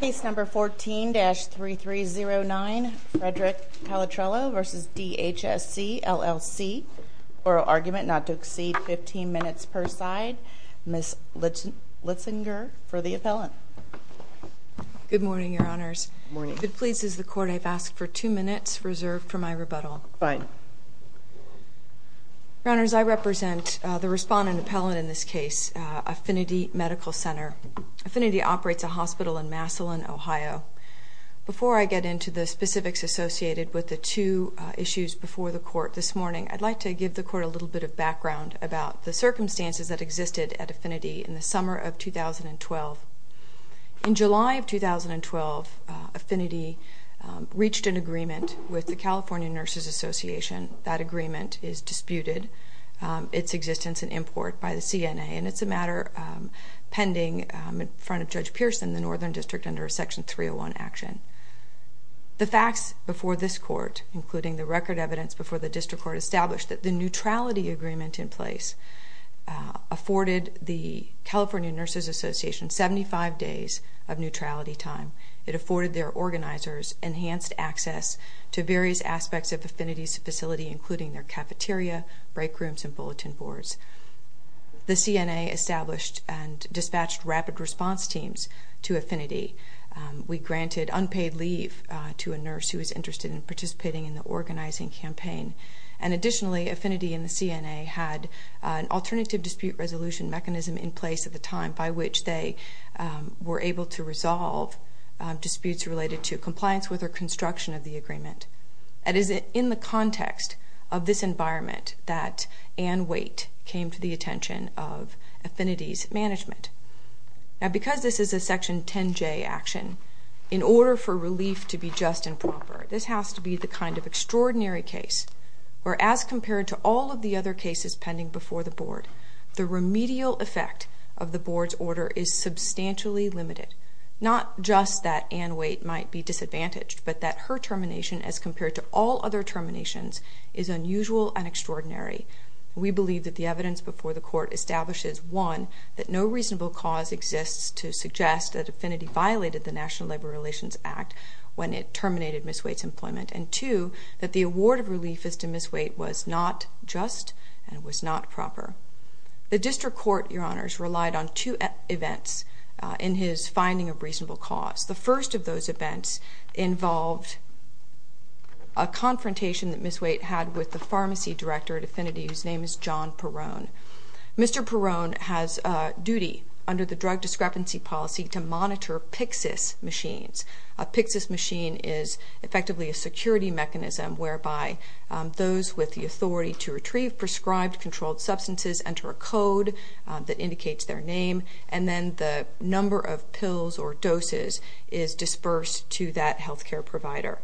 Case number 14-3309, Frederick Calatrello v. DHSC LLC. Oral argument not to exceed 15 minutes per side. Ms. Litzinger for the appellant. Good morning, Your Honors. Good morning. If it pleases the Court, I've asked for two minutes reserved for my rebuttal. Fine. Your Honors, I represent the respondent appellant in this case, Affinity Medical Center. Affinity operates a hospital in Massillon, Ohio. Before I get into the specifics associated with the two issues before the Court this morning, I'd like to give the Court a little bit of background about the circumstances that existed at Affinity in the summer of 2012. In July of 2012, Affinity reached an agreement with the California Nurses Association. That agreement is disputed, its existence in import by the CNA, and it's a matter pending in front of Judge Pearson, the Northern District, under Section 301 action. The facts before this Court, including the record evidence before the District Court, establish that the neutrality agreement in place afforded the California Nurses Association 75 days of neutrality time. It afforded their organizers enhanced access to various aspects of Affinity's facility, including their cafeteria, break rooms, and bulletin boards. The CNA established and dispatched rapid response teams to Affinity. We granted unpaid leave to a nurse who was interested in participating in the organizing campaign. And additionally, Affinity and the CNA had an alternative dispute resolution mechanism in place at the time by which they were able to resolve disputes related to compliance with or construction of the agreement. It is in the context of this environment that Ann Waite came to the attention of Affinity's management. Now, because this is a Section 10J action, in order for relief to be just and proper, this has to be the kind of extraordinary case where, as compared to all of the other cases pending before the Board, the remedial effect of the Board's order is substantially limited. Not just that Ann Waite might be disadvantaged, but that her termination, as compared to all other terminations, is unusual and extraordinary. We believe that the evidence before the Court establishes, one, that no reasonable cause exists to suggest that Affinity violated the National Labor Relations Act when it terminated Ms. Waite's employment, and two, that the award of relief as to Ms. Waite was not just and was not proper. The District Court, Your Honors, relied on two events in his finding of reasonable cause. The first of those events involved a confrontation that Ms. Waite had with the pharmacy director at Affinity, whose name is John Perrone. Mr. Perrone has a duty under the drug discrepancy policy to monitor Pyxis machines. A Pyxis machine is effectively a security mechanism whereby those with the authority to retrieve prescribed, controlled substances enter a code that indicates their name, and then the number of pills or doses is dispersed to that health care provider.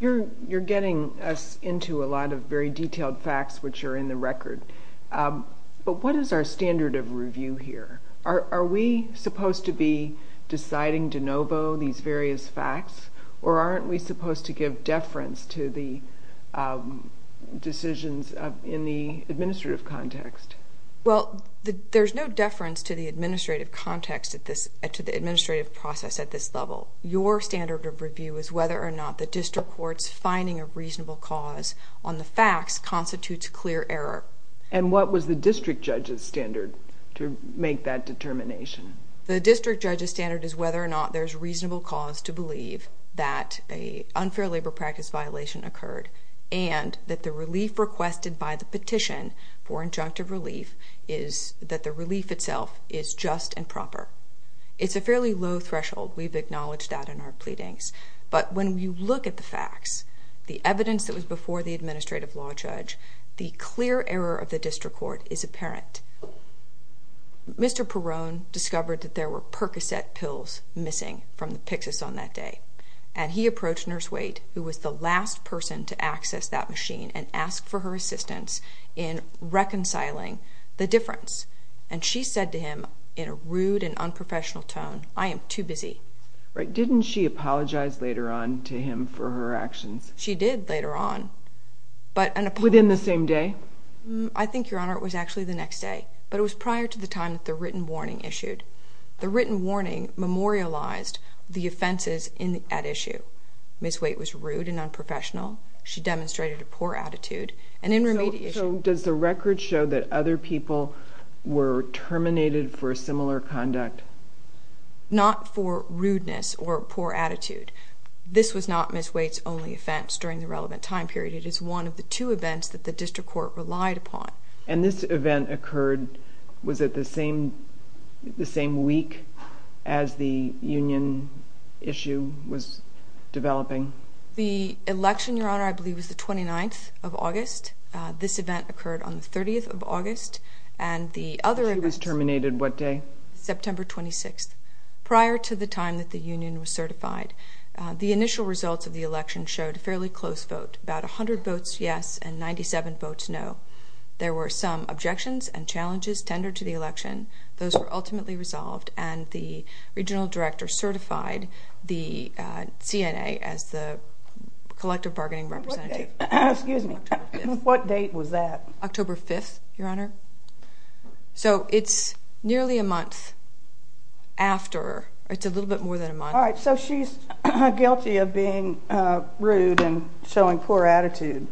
You're getting us into a lot of very detailed facts, which are in the record, but what is our standard of review here? Are we supposed to be deciding de novo these various facts, or aren't we supposed to give deference to the decisions in the administrative context? Well, there's no deference to the administrative context at this, to the administrative process at this level. Your standard of review is whether or not the District Court's finding of reasonable cause on the facts constitutes clear error. And what was the District Judge's standard to make that determination? The District Judge's standard is whether or not there's reasonable cause to believe that an unfair labor practice violation occurred and that the relief requested by the petition for injunctive relief is that the relief itself is just and proper. It's a fairly low threshold. We've acknowledged that in our pleadings. But when you look at the facts, the evidence that was before the administrative law judge, the clear error of the District Court is apparent. Mr. Perrone discovered that there were Percocet pills missing from the Pyxis on that day, and he approached Nurse Waite, who was the last person to access that machine, and asked for her assistance in reconciling the difference. And she said to him in a rude and unprofessional tone, I am too busy. Didn't she apologize later on to him for her actions? She did later on. Within the same day? I think, Your Honor, it was actually the next day. But it was prior to the time that the written warning issued. The written warning memorialized the offenses at issue. Ms. Waite was rude and unprofessional. She demonstrated a poor attitude. So does the record show that other people were terminated for similar conduct? Not for rudeness or poor attitude. This was not Ms. Waite's only offense during the relevant time period. It is one of the two events that the District Court relied upon. And this event occurred, was it the same week as the union issue was developing? The election, Your Honor, I believe was the 29th of August. This event occurred on the 30th of August. She was terminated what day? September 26th, prior to the time that the union was certified. The initial results of the election showed a fairly close vote, about 100 votes yes and 97 votes no. There were some objections and challenges tendered to the election. Those were ultimately resolved, and the regional director certified the CNA as the collective bargaining representative. Excuse me. What date was that? October 5th, Your Honor. So it's nearly a month after. All right. So she's guilty of being rude and showing poor attitude,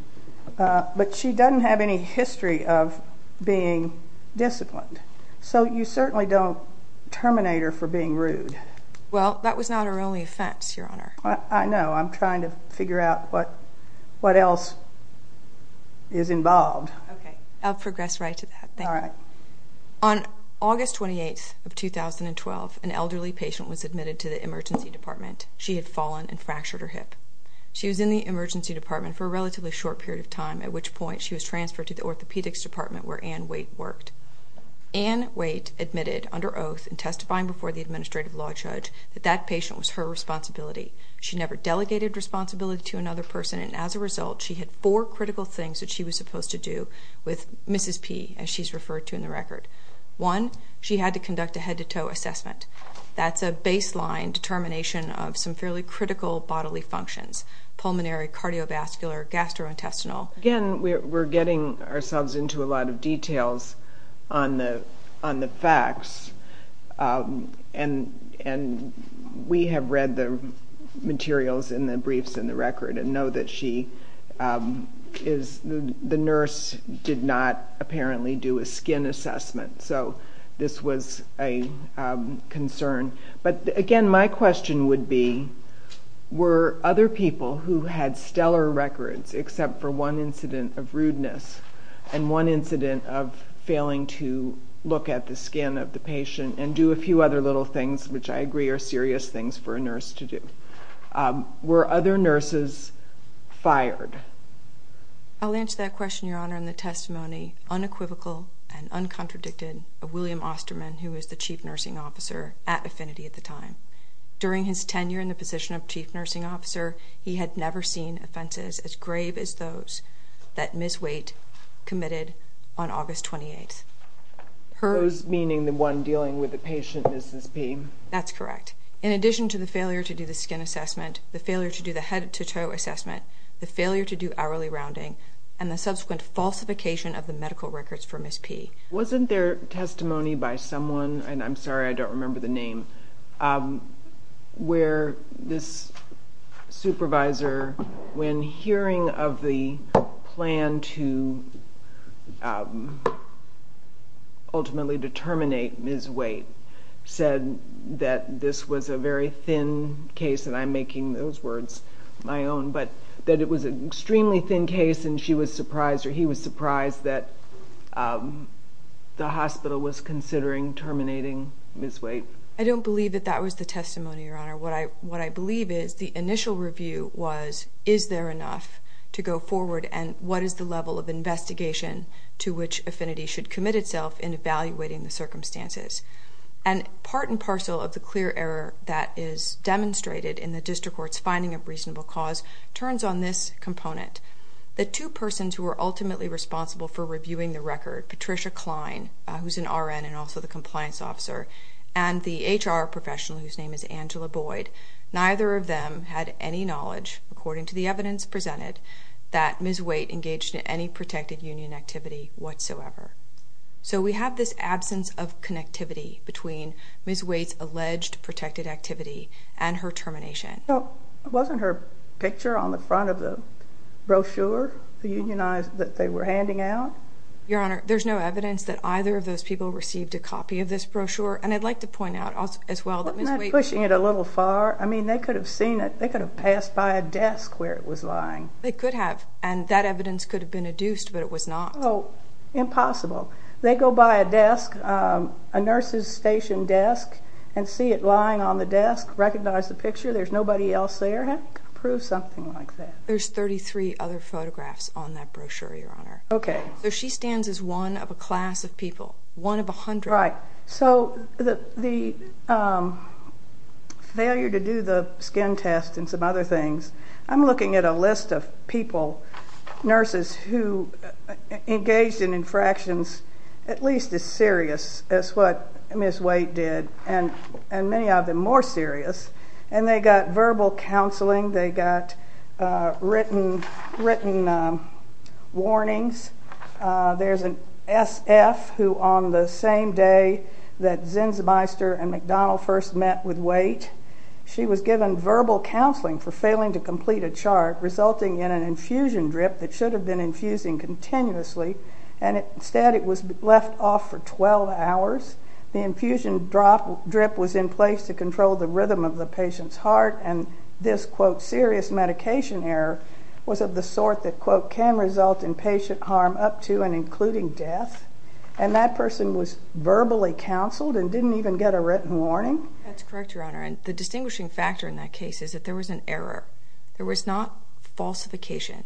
but she doesn't have any history of being disciplined. So you certainly don't terminate her for being rude. Well, that was not her only offense, Your Honor. I know. I'm trying to figure out what else is involved. Okay. I'll progress right to that. All right. On August 28th of 2012, an elderly patient was admitted to the emergency department. She had fallen and fractured her hip. She was in the emergency department for a relatively short period of time, at which point she was transferred to the orthopedics department where Ann Waite worked. Ann Waite admitted under oath in testifying before the administrative law judge that that patient was her responsibility. She never delegated responsibility to another person, and as a result she had four critical things that she was supposed to do with Mrs. P, as she's referred to in the record. One, she had to conduct a head-to-toe assessment. That's a baseline determination of some fairly critical bodily functions, pulmonary, cardiovascular, gastrointestinal. Again, we're getting ourselves into a lot of details on the facts, and we have read the materials in the briefs and the record and know that the nurse did not apparently do a skin assessment. So this was a concern. But again, my question would be, were other people who had stellar records except for one incident of rudeness and one incident of failing to look at the skin of the patient and do a few other little things, which I agree are serious things for a nurse to do, were other nurses fired? I'll answer that question, Your Honor, in the testimony, unequivocal and uncontradicted, of William Osterman, who was the chief nursing officer at Affinity at the time. During his tenure in the position of chief nursing officer, he had never seen offenses as grave as those that Ms. Waite committed on August 28th. Those meaning the one dealing with the patient, Mrs. P? That's correct. In addition to the failure to do the skin assessment, the failure to do the head-to-toe assessment, the failure to do hourly rounding, and the subsequent falsification of the medical records for Ms. P. Wasn't there testimony by someone, and I'm sorry I don't remember the name, where this supervisor, when hearing of the plan to ultimately determinate Ms. Waite, said that this was a very thin case, and I'm making those words my own, but that it was an extremely thin case and she was surprised or he was surprised that the hospital was considering terminating Ms. Waite? I don't believe that that was the testimony, Your Honor. What I believe is the initial review was, is there enough to go forward and what is the level of investigation to which Affinity should commit itself in evaluating the circumstances? And part and parcel of the clear error that is demonstrated in the district court's finding of reasonable cause turns on this component. The two persons who were ultimately responsible for reviewing the record, Patricia Klein, who's an RN and also the compliance officer, and the HR professional whose name is Angela Boyd, neither of them had any knowledge, according to the evidence presented, that Ms. Waite engaged in any protected union activity whatsoever. So we have this absence of connectivity between Ms. Waite's alleged protected activity and her termination. Wasn't her picture on the front of the brochure that they were handing out? Your Honor, there's no evidence that either of those people received a copy of this brochure, and I'd like to point out as well that Ms. Waite... Wasn't that pushing it a little far? I mean, they could have seen it. They could have passed by a desk where it was lying. They could have, and that evidence could have been adduced, but it was not. Oh, impossible. They go by a desk, a nurse's station desk, and see it lying on the desk, recognize the picture, there's nobody else there. How are you going to prove something like that? There's 33 other photographs on that brochure, Your Honor. Okay. So she stands as one of a class of people, one of a hundred. Right. So the failure to do the skin test and some other things, I'm looking at a list of people, nurses, who engaged in infractions at least as serious as what Ms. Waite did, and many of them more serious, and they got verbal counseling, they got written warnings. There's an S.F. who on the same day that Zinzmeister and McDonald first met with Waite, she was given verbal counseling for failing to complete a chart, resulting in an infusion drip that should have been infusing continuously, and instead it was left off for 12 hours. The infusion drip was in place to control the rhythm of the patient's heart, and this, quote, serious medication error was of the sort that, quote, can result in patient harm up to and including death, and that person was verbally counseled and didn't even get a written warning? That's correct, Your Honor, and the distinguishing factor in that case is that there was an error. There was not falsification.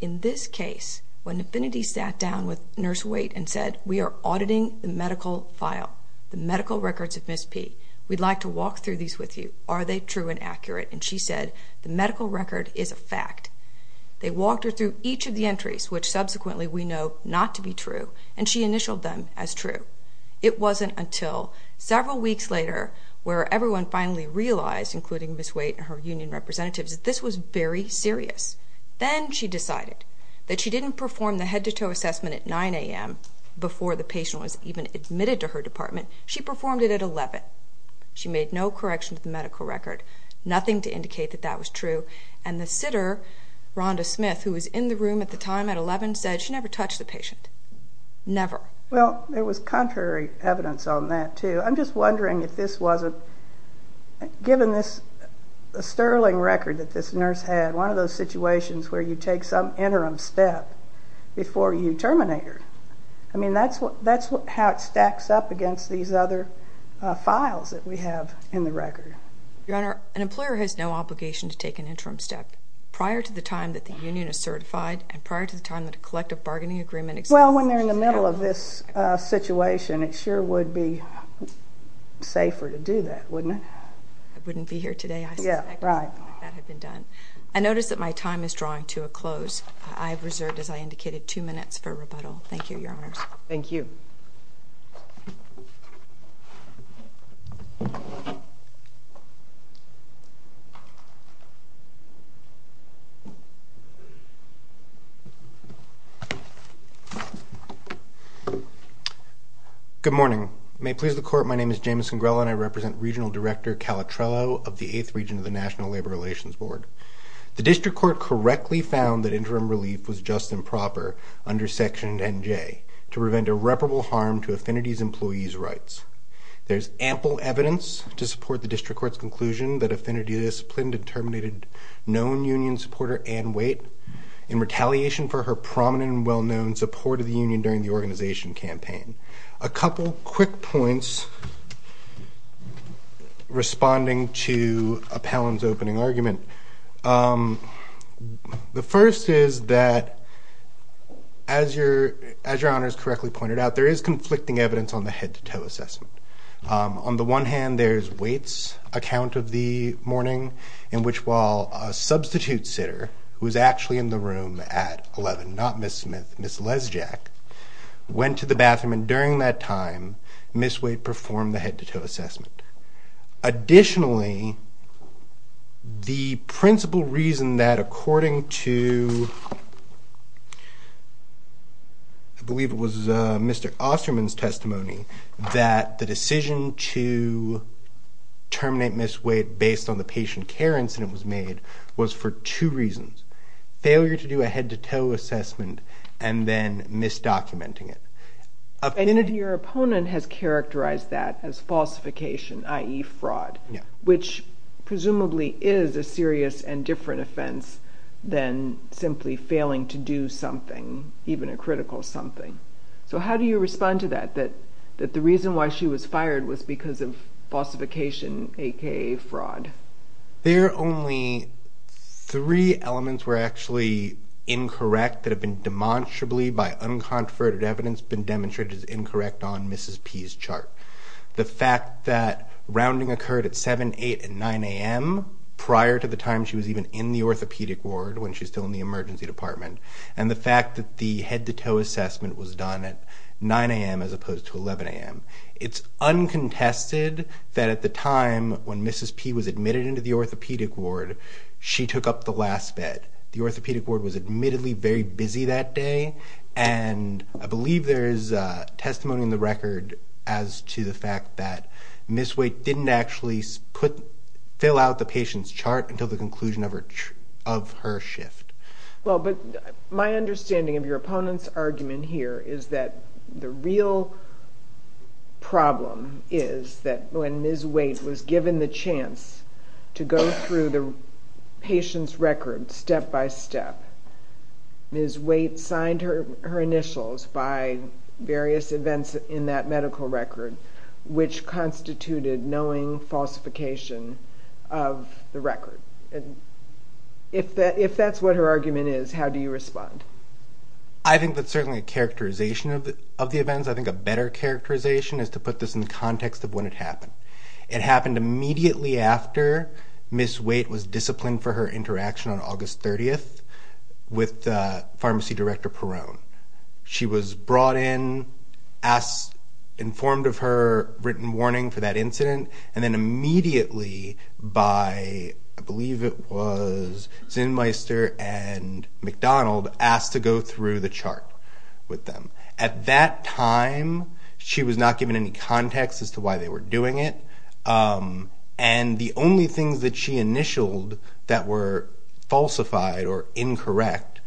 In this case, when Nafinity sat down with Nurse Waite and said, we are auditing the medical file, the medical records of Ms. P., we'd like to walk through these with you, are they true and accurate, and she said, the medical record is a fact. They walked her through each of the entries, which subsequently we know not to be true, and she initialed them as true. It wasn't until several weeks later where everyone finally realized, including Ms. Waite and her union representatives, that this was very serious. Then she decided that she didn't perform the head-to-toe assessment at 9 a.m. before the patient was even admitted to her department. She performed it at 11. She made no correction to the medical record, nothing to indicate that that was true, and the sitter, Rhonda Smith, who was in the room at the time at 11, said she never touched the patient, never. Well, there was contrary evidence on that, too. I'm just wondering if this wasn't, given this sterling record that this nurse had, one of those situations where you take some interim step before you terminate her. I mean, that's how it stacks up against these other files that we have in the record. Your Honor, an employer has no obligation to take an interim step prior to the time that the union is certified and prior to the time that a collective bargaining agreement exists. Well, when they're in the middle of this situation, it sure would be safer to do that, wouldn't it? I wouldn't be here today, I suspect, if that had been done. I notice that my time is drawing to a close. I have reserved, as I indicated, two minutes for rebuttal. Thank you, Your Honor. Thank you. Good morning. May it please the Court, my name is James Congrella and I represent Regional Director Calatrello of the 8th Region of the National Labor Relations Board. The District Court correctly found that interim relief was just and proper under Section 10J to prevent irreparable harm to Affinity's employees' rights. There is ample evidence to support the District Court's conclusion that Affinity disciplined and terminated known union supporter Ann Waite in retaliation for her prominent and well-known support of the union during the organization campaign. A couple quick points responding to Appellant's opening argument. The first is that, as Your Honor has correctly pointed out, there is conflicting evidence on the head-to-toe assessment. On the one hand, there's Waite's account of the morning in which while a substitute sitter, who was actually in the room at 11, not Ms. Smith, Ms. Lesjack, went to the bathroom and during that time Ms. Waite performed the head-to-toe assessment. Additionally, the principal reason that according to, I believe it was Mr. Osterman's testimony, that the decision to terminate Ms. Waite based on the patient care incident was made was for two reasons. Failure to do a head-to-toe assessment and then misdocumenting it. And your opponent has characterized that as falsification, i.e. fraud, which presumably is a serious and different offense than simply failing to do something, even a critical something. So how do you respond to that? That the reason why she was fired was because of falsification, a.k.a. fraud? There are only three elements were actually incorrect that have been demonstrably, by unconverted evidence, been demonstrated as incorrect on Mrs. P's chart. The fact that rounding occurred at 7, 8, and 9 a.m. prior to the time she was even in the orthopedic ward when she was still in the emergency department. And the fact that the head-to-toe assessment was done at 9 a.m. as opposed to 11 a.m. It's uncontested that at the time when Mrs. P was admitted into the orthopedic ward, she took up the last bed. The orthopedic ward was admittedly very busy that day, and I believe there is testimony in the record as to the fact that Ms. Waite didn't actually fill out the patient's chart until the conclusion of her shift. Well, but my understanding of your opponent's argument here is that the real problem is that when Ms. Waite was given the chance to go through the patient's record step by step, Ms. Waite signed her initials by various events in that medical record, and if that's what her argument is, how do you respond? I think that's certainly a characterization of the events. I think a better characterization is to put this in the context of when it happened. It happened immediately after Ms. Waite was disciplined for her interaction on August 30th with Pharmacy Director Perrone. She was brought in, informed of her written warning for that incident, and then immediately by, I believe it was Zinmeister and McDonald, asked to go through the chart with them. At that time, she was not given any context as to why they were doing it, and the only things that she initialed that were falsified or incorrect,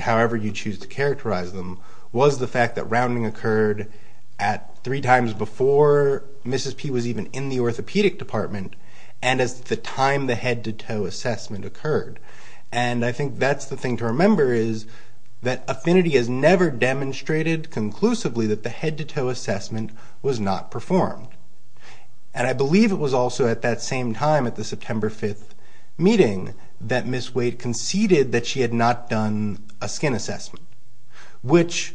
however you choose to characterize them, was the fact that rounding occurred at three times before Mrs. P. was even in the orthopedic department and at the time the head-to-toe assessment occurred. And I think that's the thing to remember is that Affinity has never demonstrated conclusively that the head-to-toe assessment was not performed. And I believe it was also at that same time, at the September 5th meeting, that Ms. Waite conceded that she had not done a skin assessment, which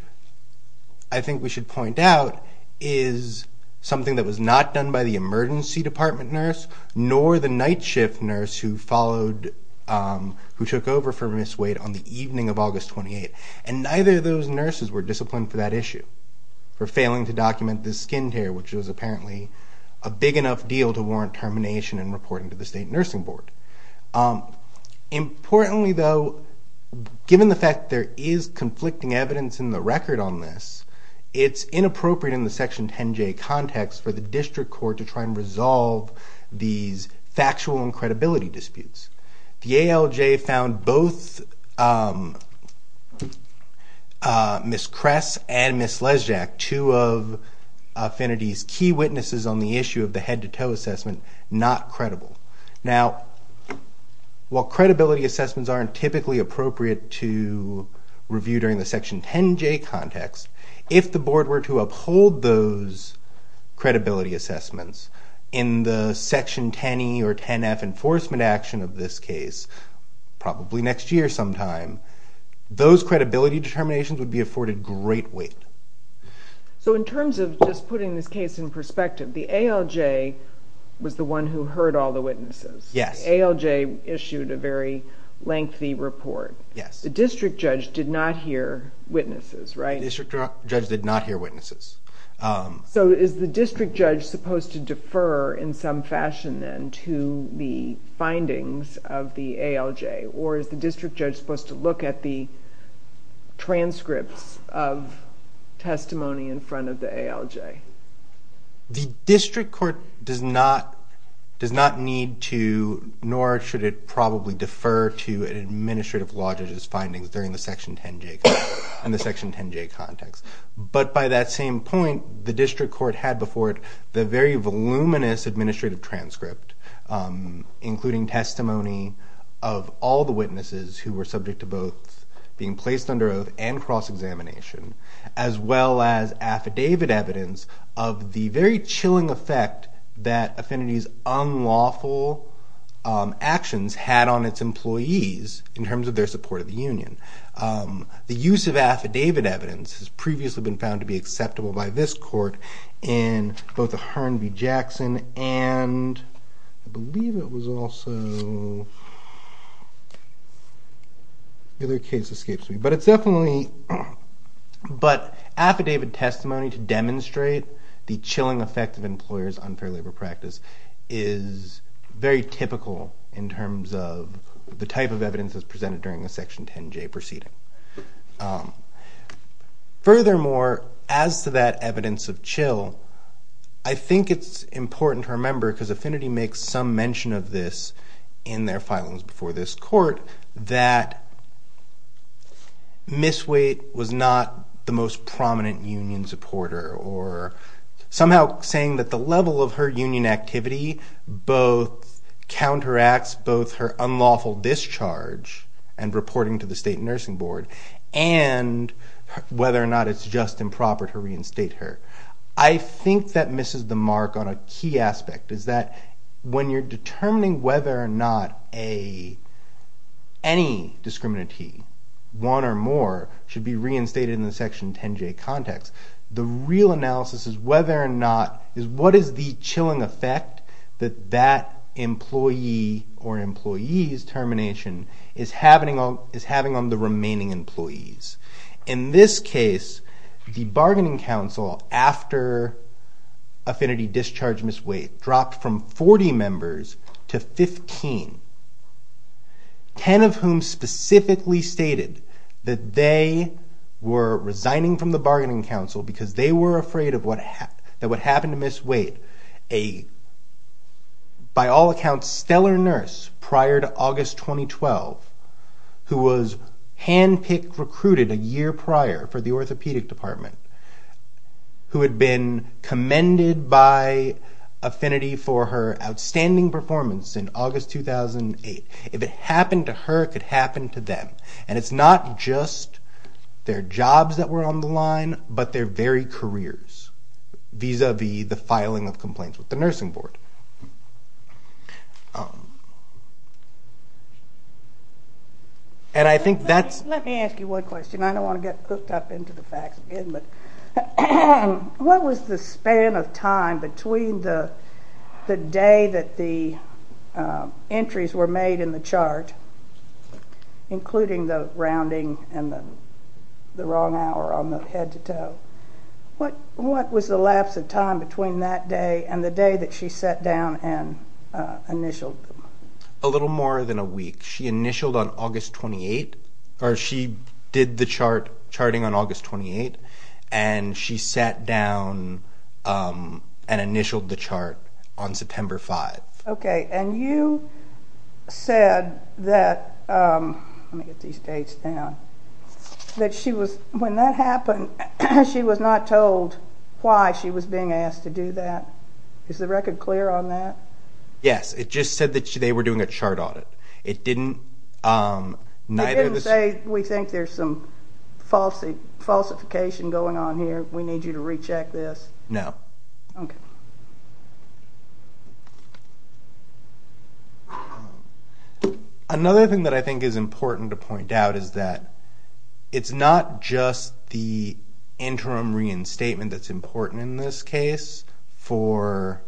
I think we should point out is something that was not done by the emergency department nurse nor the night shift nurse who took over for Ms. Waite on the evening of August 28th. And neither of those nurses were disciplined for that issue, for failing to document the skin tear, which was apparently a big enough deal to warrant termination and reporting to the state nursing board. Importantly, though, given the fact there is conflicting evidence in the record on this, it's inappropriate in the Section 10J context for the district court to try and resolve these factual and credibility disputes. The ALJ found both Ms. Kress and Ms. Lesjak, two of Affinity's key witnesses on the issue of the head-to-toe assessment, not credible. Now, while credibility assessments aren't typically appropriate to review during the Section 10J context, if the board were to uphold those credibility assessments in the Section 10E or 10F enforcement action of this case, probably next year sometime, those credibility determinations would be afforded great weight. So in terms of just putting this case in perspective, the ALJ was the one who heard all the witnesses. Yes. The ALJ issued a very lengthy report. Yes. The district judge did not hear witnesses, right? The district judge did not hear witnesses. So is the district judge supposed to defer in some fashion then to the findings of the ALJ, or is the district judge supposed to look at the transcripts of testimony in front of the ALJ? The district court does not need to, nor should it probably defer to an administrative law judge's findings during the Section 10J context. But by that same point, the district court had before it the very voluminous administrative transcript, including testimony of all the witnesses who were subject to both being placed under oath and cross-examination, as well as affidavit evidence of the very chilling effect that Affinity's unlawful actions had on its employees in terms of their support of the union. The use of affidavit evidence has previously been found to be acceptable by this court in both the Harn v. Jackson and I believe it was also the other case escapes me, but affidavit testimony to demonstrate the chilling effect of employers' unfair labor practice is very typical in terms of the type of evidence that's presented during a Section 10J proceeding. Furthermore, as to that evidence of chill, I think it's important to remember, because Affinity makes some mention of this in their filings before this court, that Miss Waite was not the most prominent union supporter or somehow saying that the level of her union activity both counteracts both her unlawful discharge and reporting to the state nursing board and whether or not it's just improper to reinstate her. I think that misses the mark on a key aspect, is that when you're determining whether or not any discriminantee, one or more, should be reinstated in the Section 10J context, the real analysis is what is the chilling effect that that employee or employee's termination is having on the remaining employees. In this case, the bargaining council, after Affinity discharged Miss Waite, dropped from 40 members to 15, 10 of whom specifically stated that they were resigning from the bargaining council because they were afraid that what happened to Miss Waite, a, by all accounts, stellar nurse prior to August 2012, who was hand-picked, recruited a year prior for the orthopedic department, who had been commended by Affinity for her outstanding performance in August 2008. If it happened to her, it could happen to them. And it's not just their jobs that were on the line, but their very careers, vis-à-vis the filing of complaints with the nursing board. And I think that's... What was the span of time between the day that the entries were made in the chart, including the rounding and the wrong hour on the head-to-toe? What was the lapse of time between that day and the day that she sat down and initialed them? A little more than a week. She initialed on August 28, or she did the chart, charting on August 28, and she sat down and initialed the chart on September 5. Okay, and you said that... Let me get these dates down. That she was, when that happened, she was not told why she was being asked to do that. Is the record clear on that? Yes, it just said that they were doing a chart audit. It didn't... It didn't say, we think there's some falsification going on here. We need you to recheck this. No. Okay. Another thing that I think is important to point out is that it's not just the interim reinstatement that's important in this case for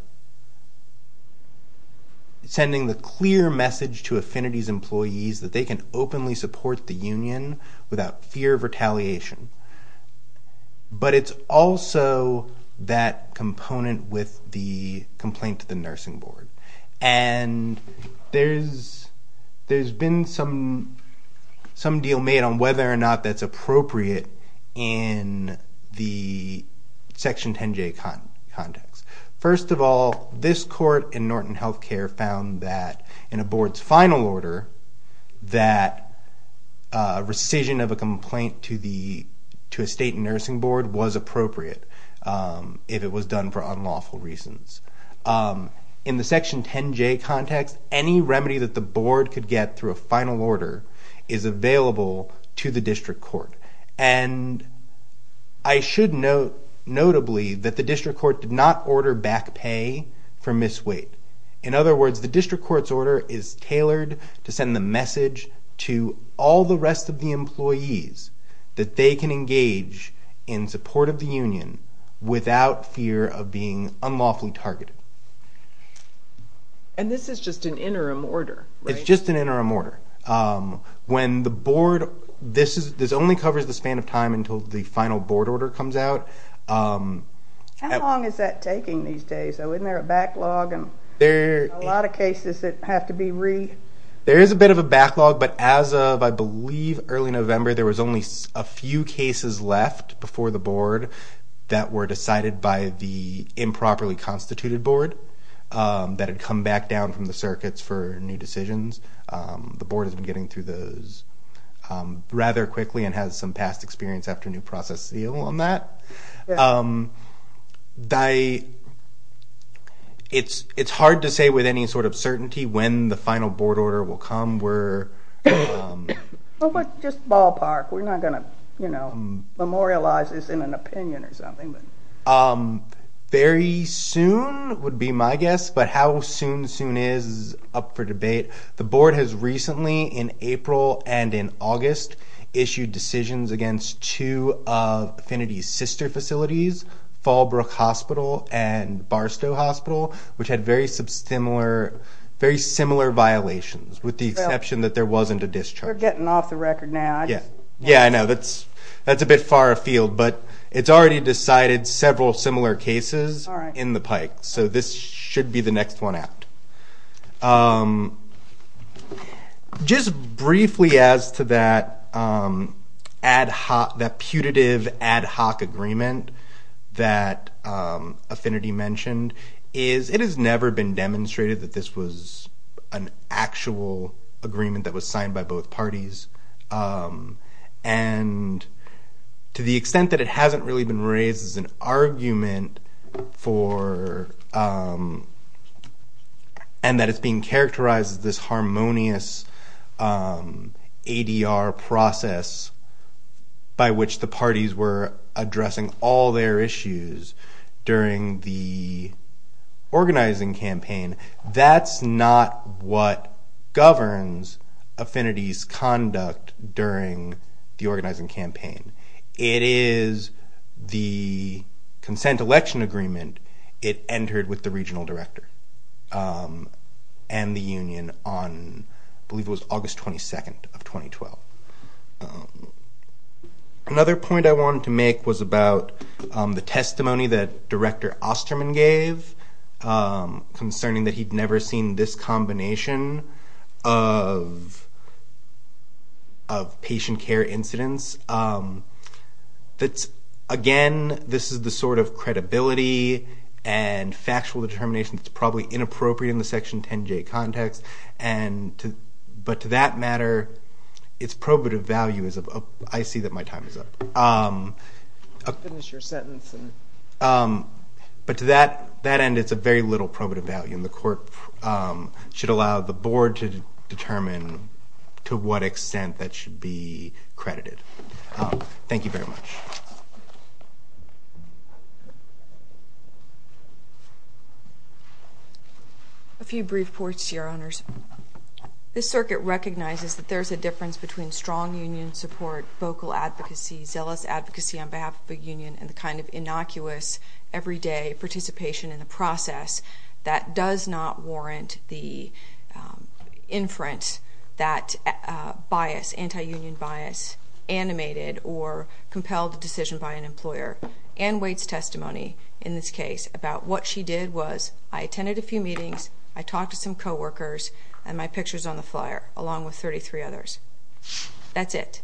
sending the clear message to Affinity's employees that they can openly support the union without fear of retaliation. But it's also that component with the complaint to the nursing board. And there's been some deal made on whether or not that's appropriate in the Section 10J context. First of all, this court in Norton Healthcare found that in a board's final order that rescission of a complaint to a state nursing board was appropriate if it was done for unlawful reasons. In the Section 10J context, any remedy that the board could get through a final order is available to the district court. And I should note, notably, that the district court did not order back pay for misweight. In other words, the district court's order is tailored to send the message to all the rest of the employees that they can engage in support of the union without fear of being unlawfully targeted. And this is just an interim order, right? It's just an interim order. When the board... This only covers the span of time until the final board order comes out. How long is that taking these days? Isn't there a backlog? There are a lot of cases that have to be re... There is a bit of a backlog, but as of, I believe, early November, there was only a few cases left before the board that were decided by the improperly constituted board that had come back down from the circuits for new decisions. The board has been getting through those rather quickly and has some past experience after a new process seal on that. It's hard to say with any sort of certainty when the final board order will come. Well, but just ballpark. We're not going to, you know, memorialize this in an opinion or something. Very soon would be my guess, but how soon soon is up for debate. The board has recently, in April and in August, issued decisions against two of Affinity's sister facilities, Fallbrook Hospital and Barstow Hospital, which had very similar violations with the exception that there wasn't a discharge. We're getting off the record now. Yeah, I know. That's a bit far afield, but it's already decided several similar cases in the pike, so this should be the next one out. Just briefly as to that ad hoc, that putative ad hoc agreement that Affinity mentioned, is it has never been demonstrated that this was an actual agreement that was signed by both parties. And to the extent that it hasn't really been raised as an argument for, and that it's being characterized as this harmonious ADR process by which the parties were addressing all their issues during the organizing campaign, that's not what governs Affinity's conduct during the organizing campaign. It is the consent election agreement. It entered with the regional director and the union on, I believe it was August 22nd of 2012. Another point I wanted to make was about the testimony that Director Osterman gave concerning that he'd never seen this combination of patient care incidents. Again, this is the sort of credibility and factual determination that's probably inappropriate in the Section 10J context, but to that matter, its probative value is, I see that my time is up. But to that end, it's a very little probative value, and the court should allow the board to determine to what extent that should be credited. Thank you very much. A few brief points, Your Honors. This circuit recognizes that there's a difference between strong union support, vocal advocacy, zealous advocacy on behalf of a union, and the kind of innocuous, everyday participation in the process that does not warrant the inference that bias, anti-union bias, animated or compelled a decision by an employer. Ann Waite's testimony in this case about what she did was, I attended a few meetings, I talked to some coworkers, and my picture's on the flyer, along with 33 others. That's it.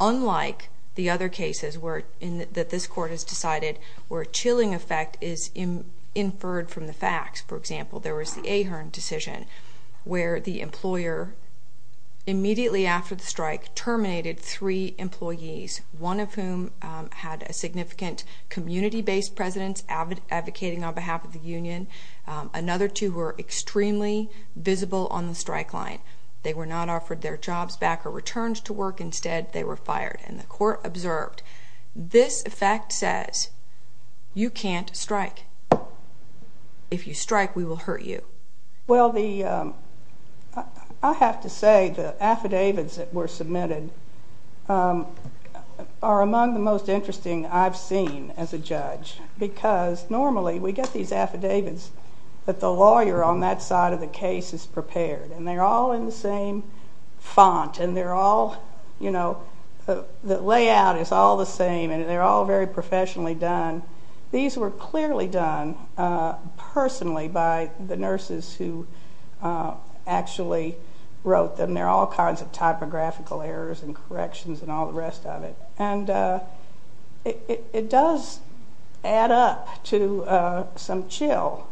Unlike the other cases that this court has decided where a chilling effect is inferred from the facts, for example, there was the Ahern decision, where the employer, immediately after the strike, terminated three employees, one of whom had a significant community-based presence, advocating on behalf of the union. Another two were extremely visible on the strike line. They were not offered their jobs back or returned to work. Instead, they were fired, and the court observed, this effect says, you can't strike. If you strike, we will hurt you. Well, I have to say the affidavits that were submitted are among the most interesting I've seen as a judge, because normally we get these affidavits that the lawyer on that side of the case is prepared, and they're all in the same font, and they're all, you know, the layout is all the same, and they're all very professionally done. These were clearly done personally by the nurses who actually wrote them. There are all kinds of typographical errors and corrections and all the rest of it, and it does add up to some chill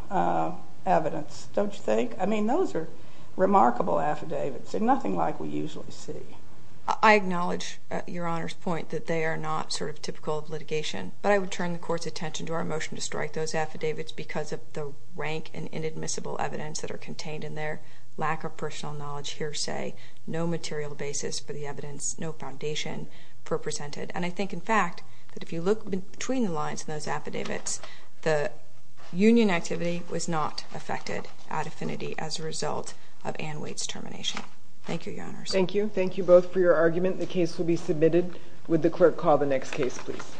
evidence, don't you think? I mean, those are remarkable affidavits. They're nothing like we usually see. that they are not sort of typical of litigation, but I would turn the court's attention to our motion to strike those affidavits because of the rank and inadmissible evidence that are contained in there, lack of personal knowledge, hearsay, no material basis for the evidence, no foundation for presented. And I think, in fact, that if you look between the lines in those affidavits, the union activity was not affected at affinity as a result of Ann Waite's termination. Thank you. Thank you both for your argument. The case will be submitted. Would the clerk call the next case, please?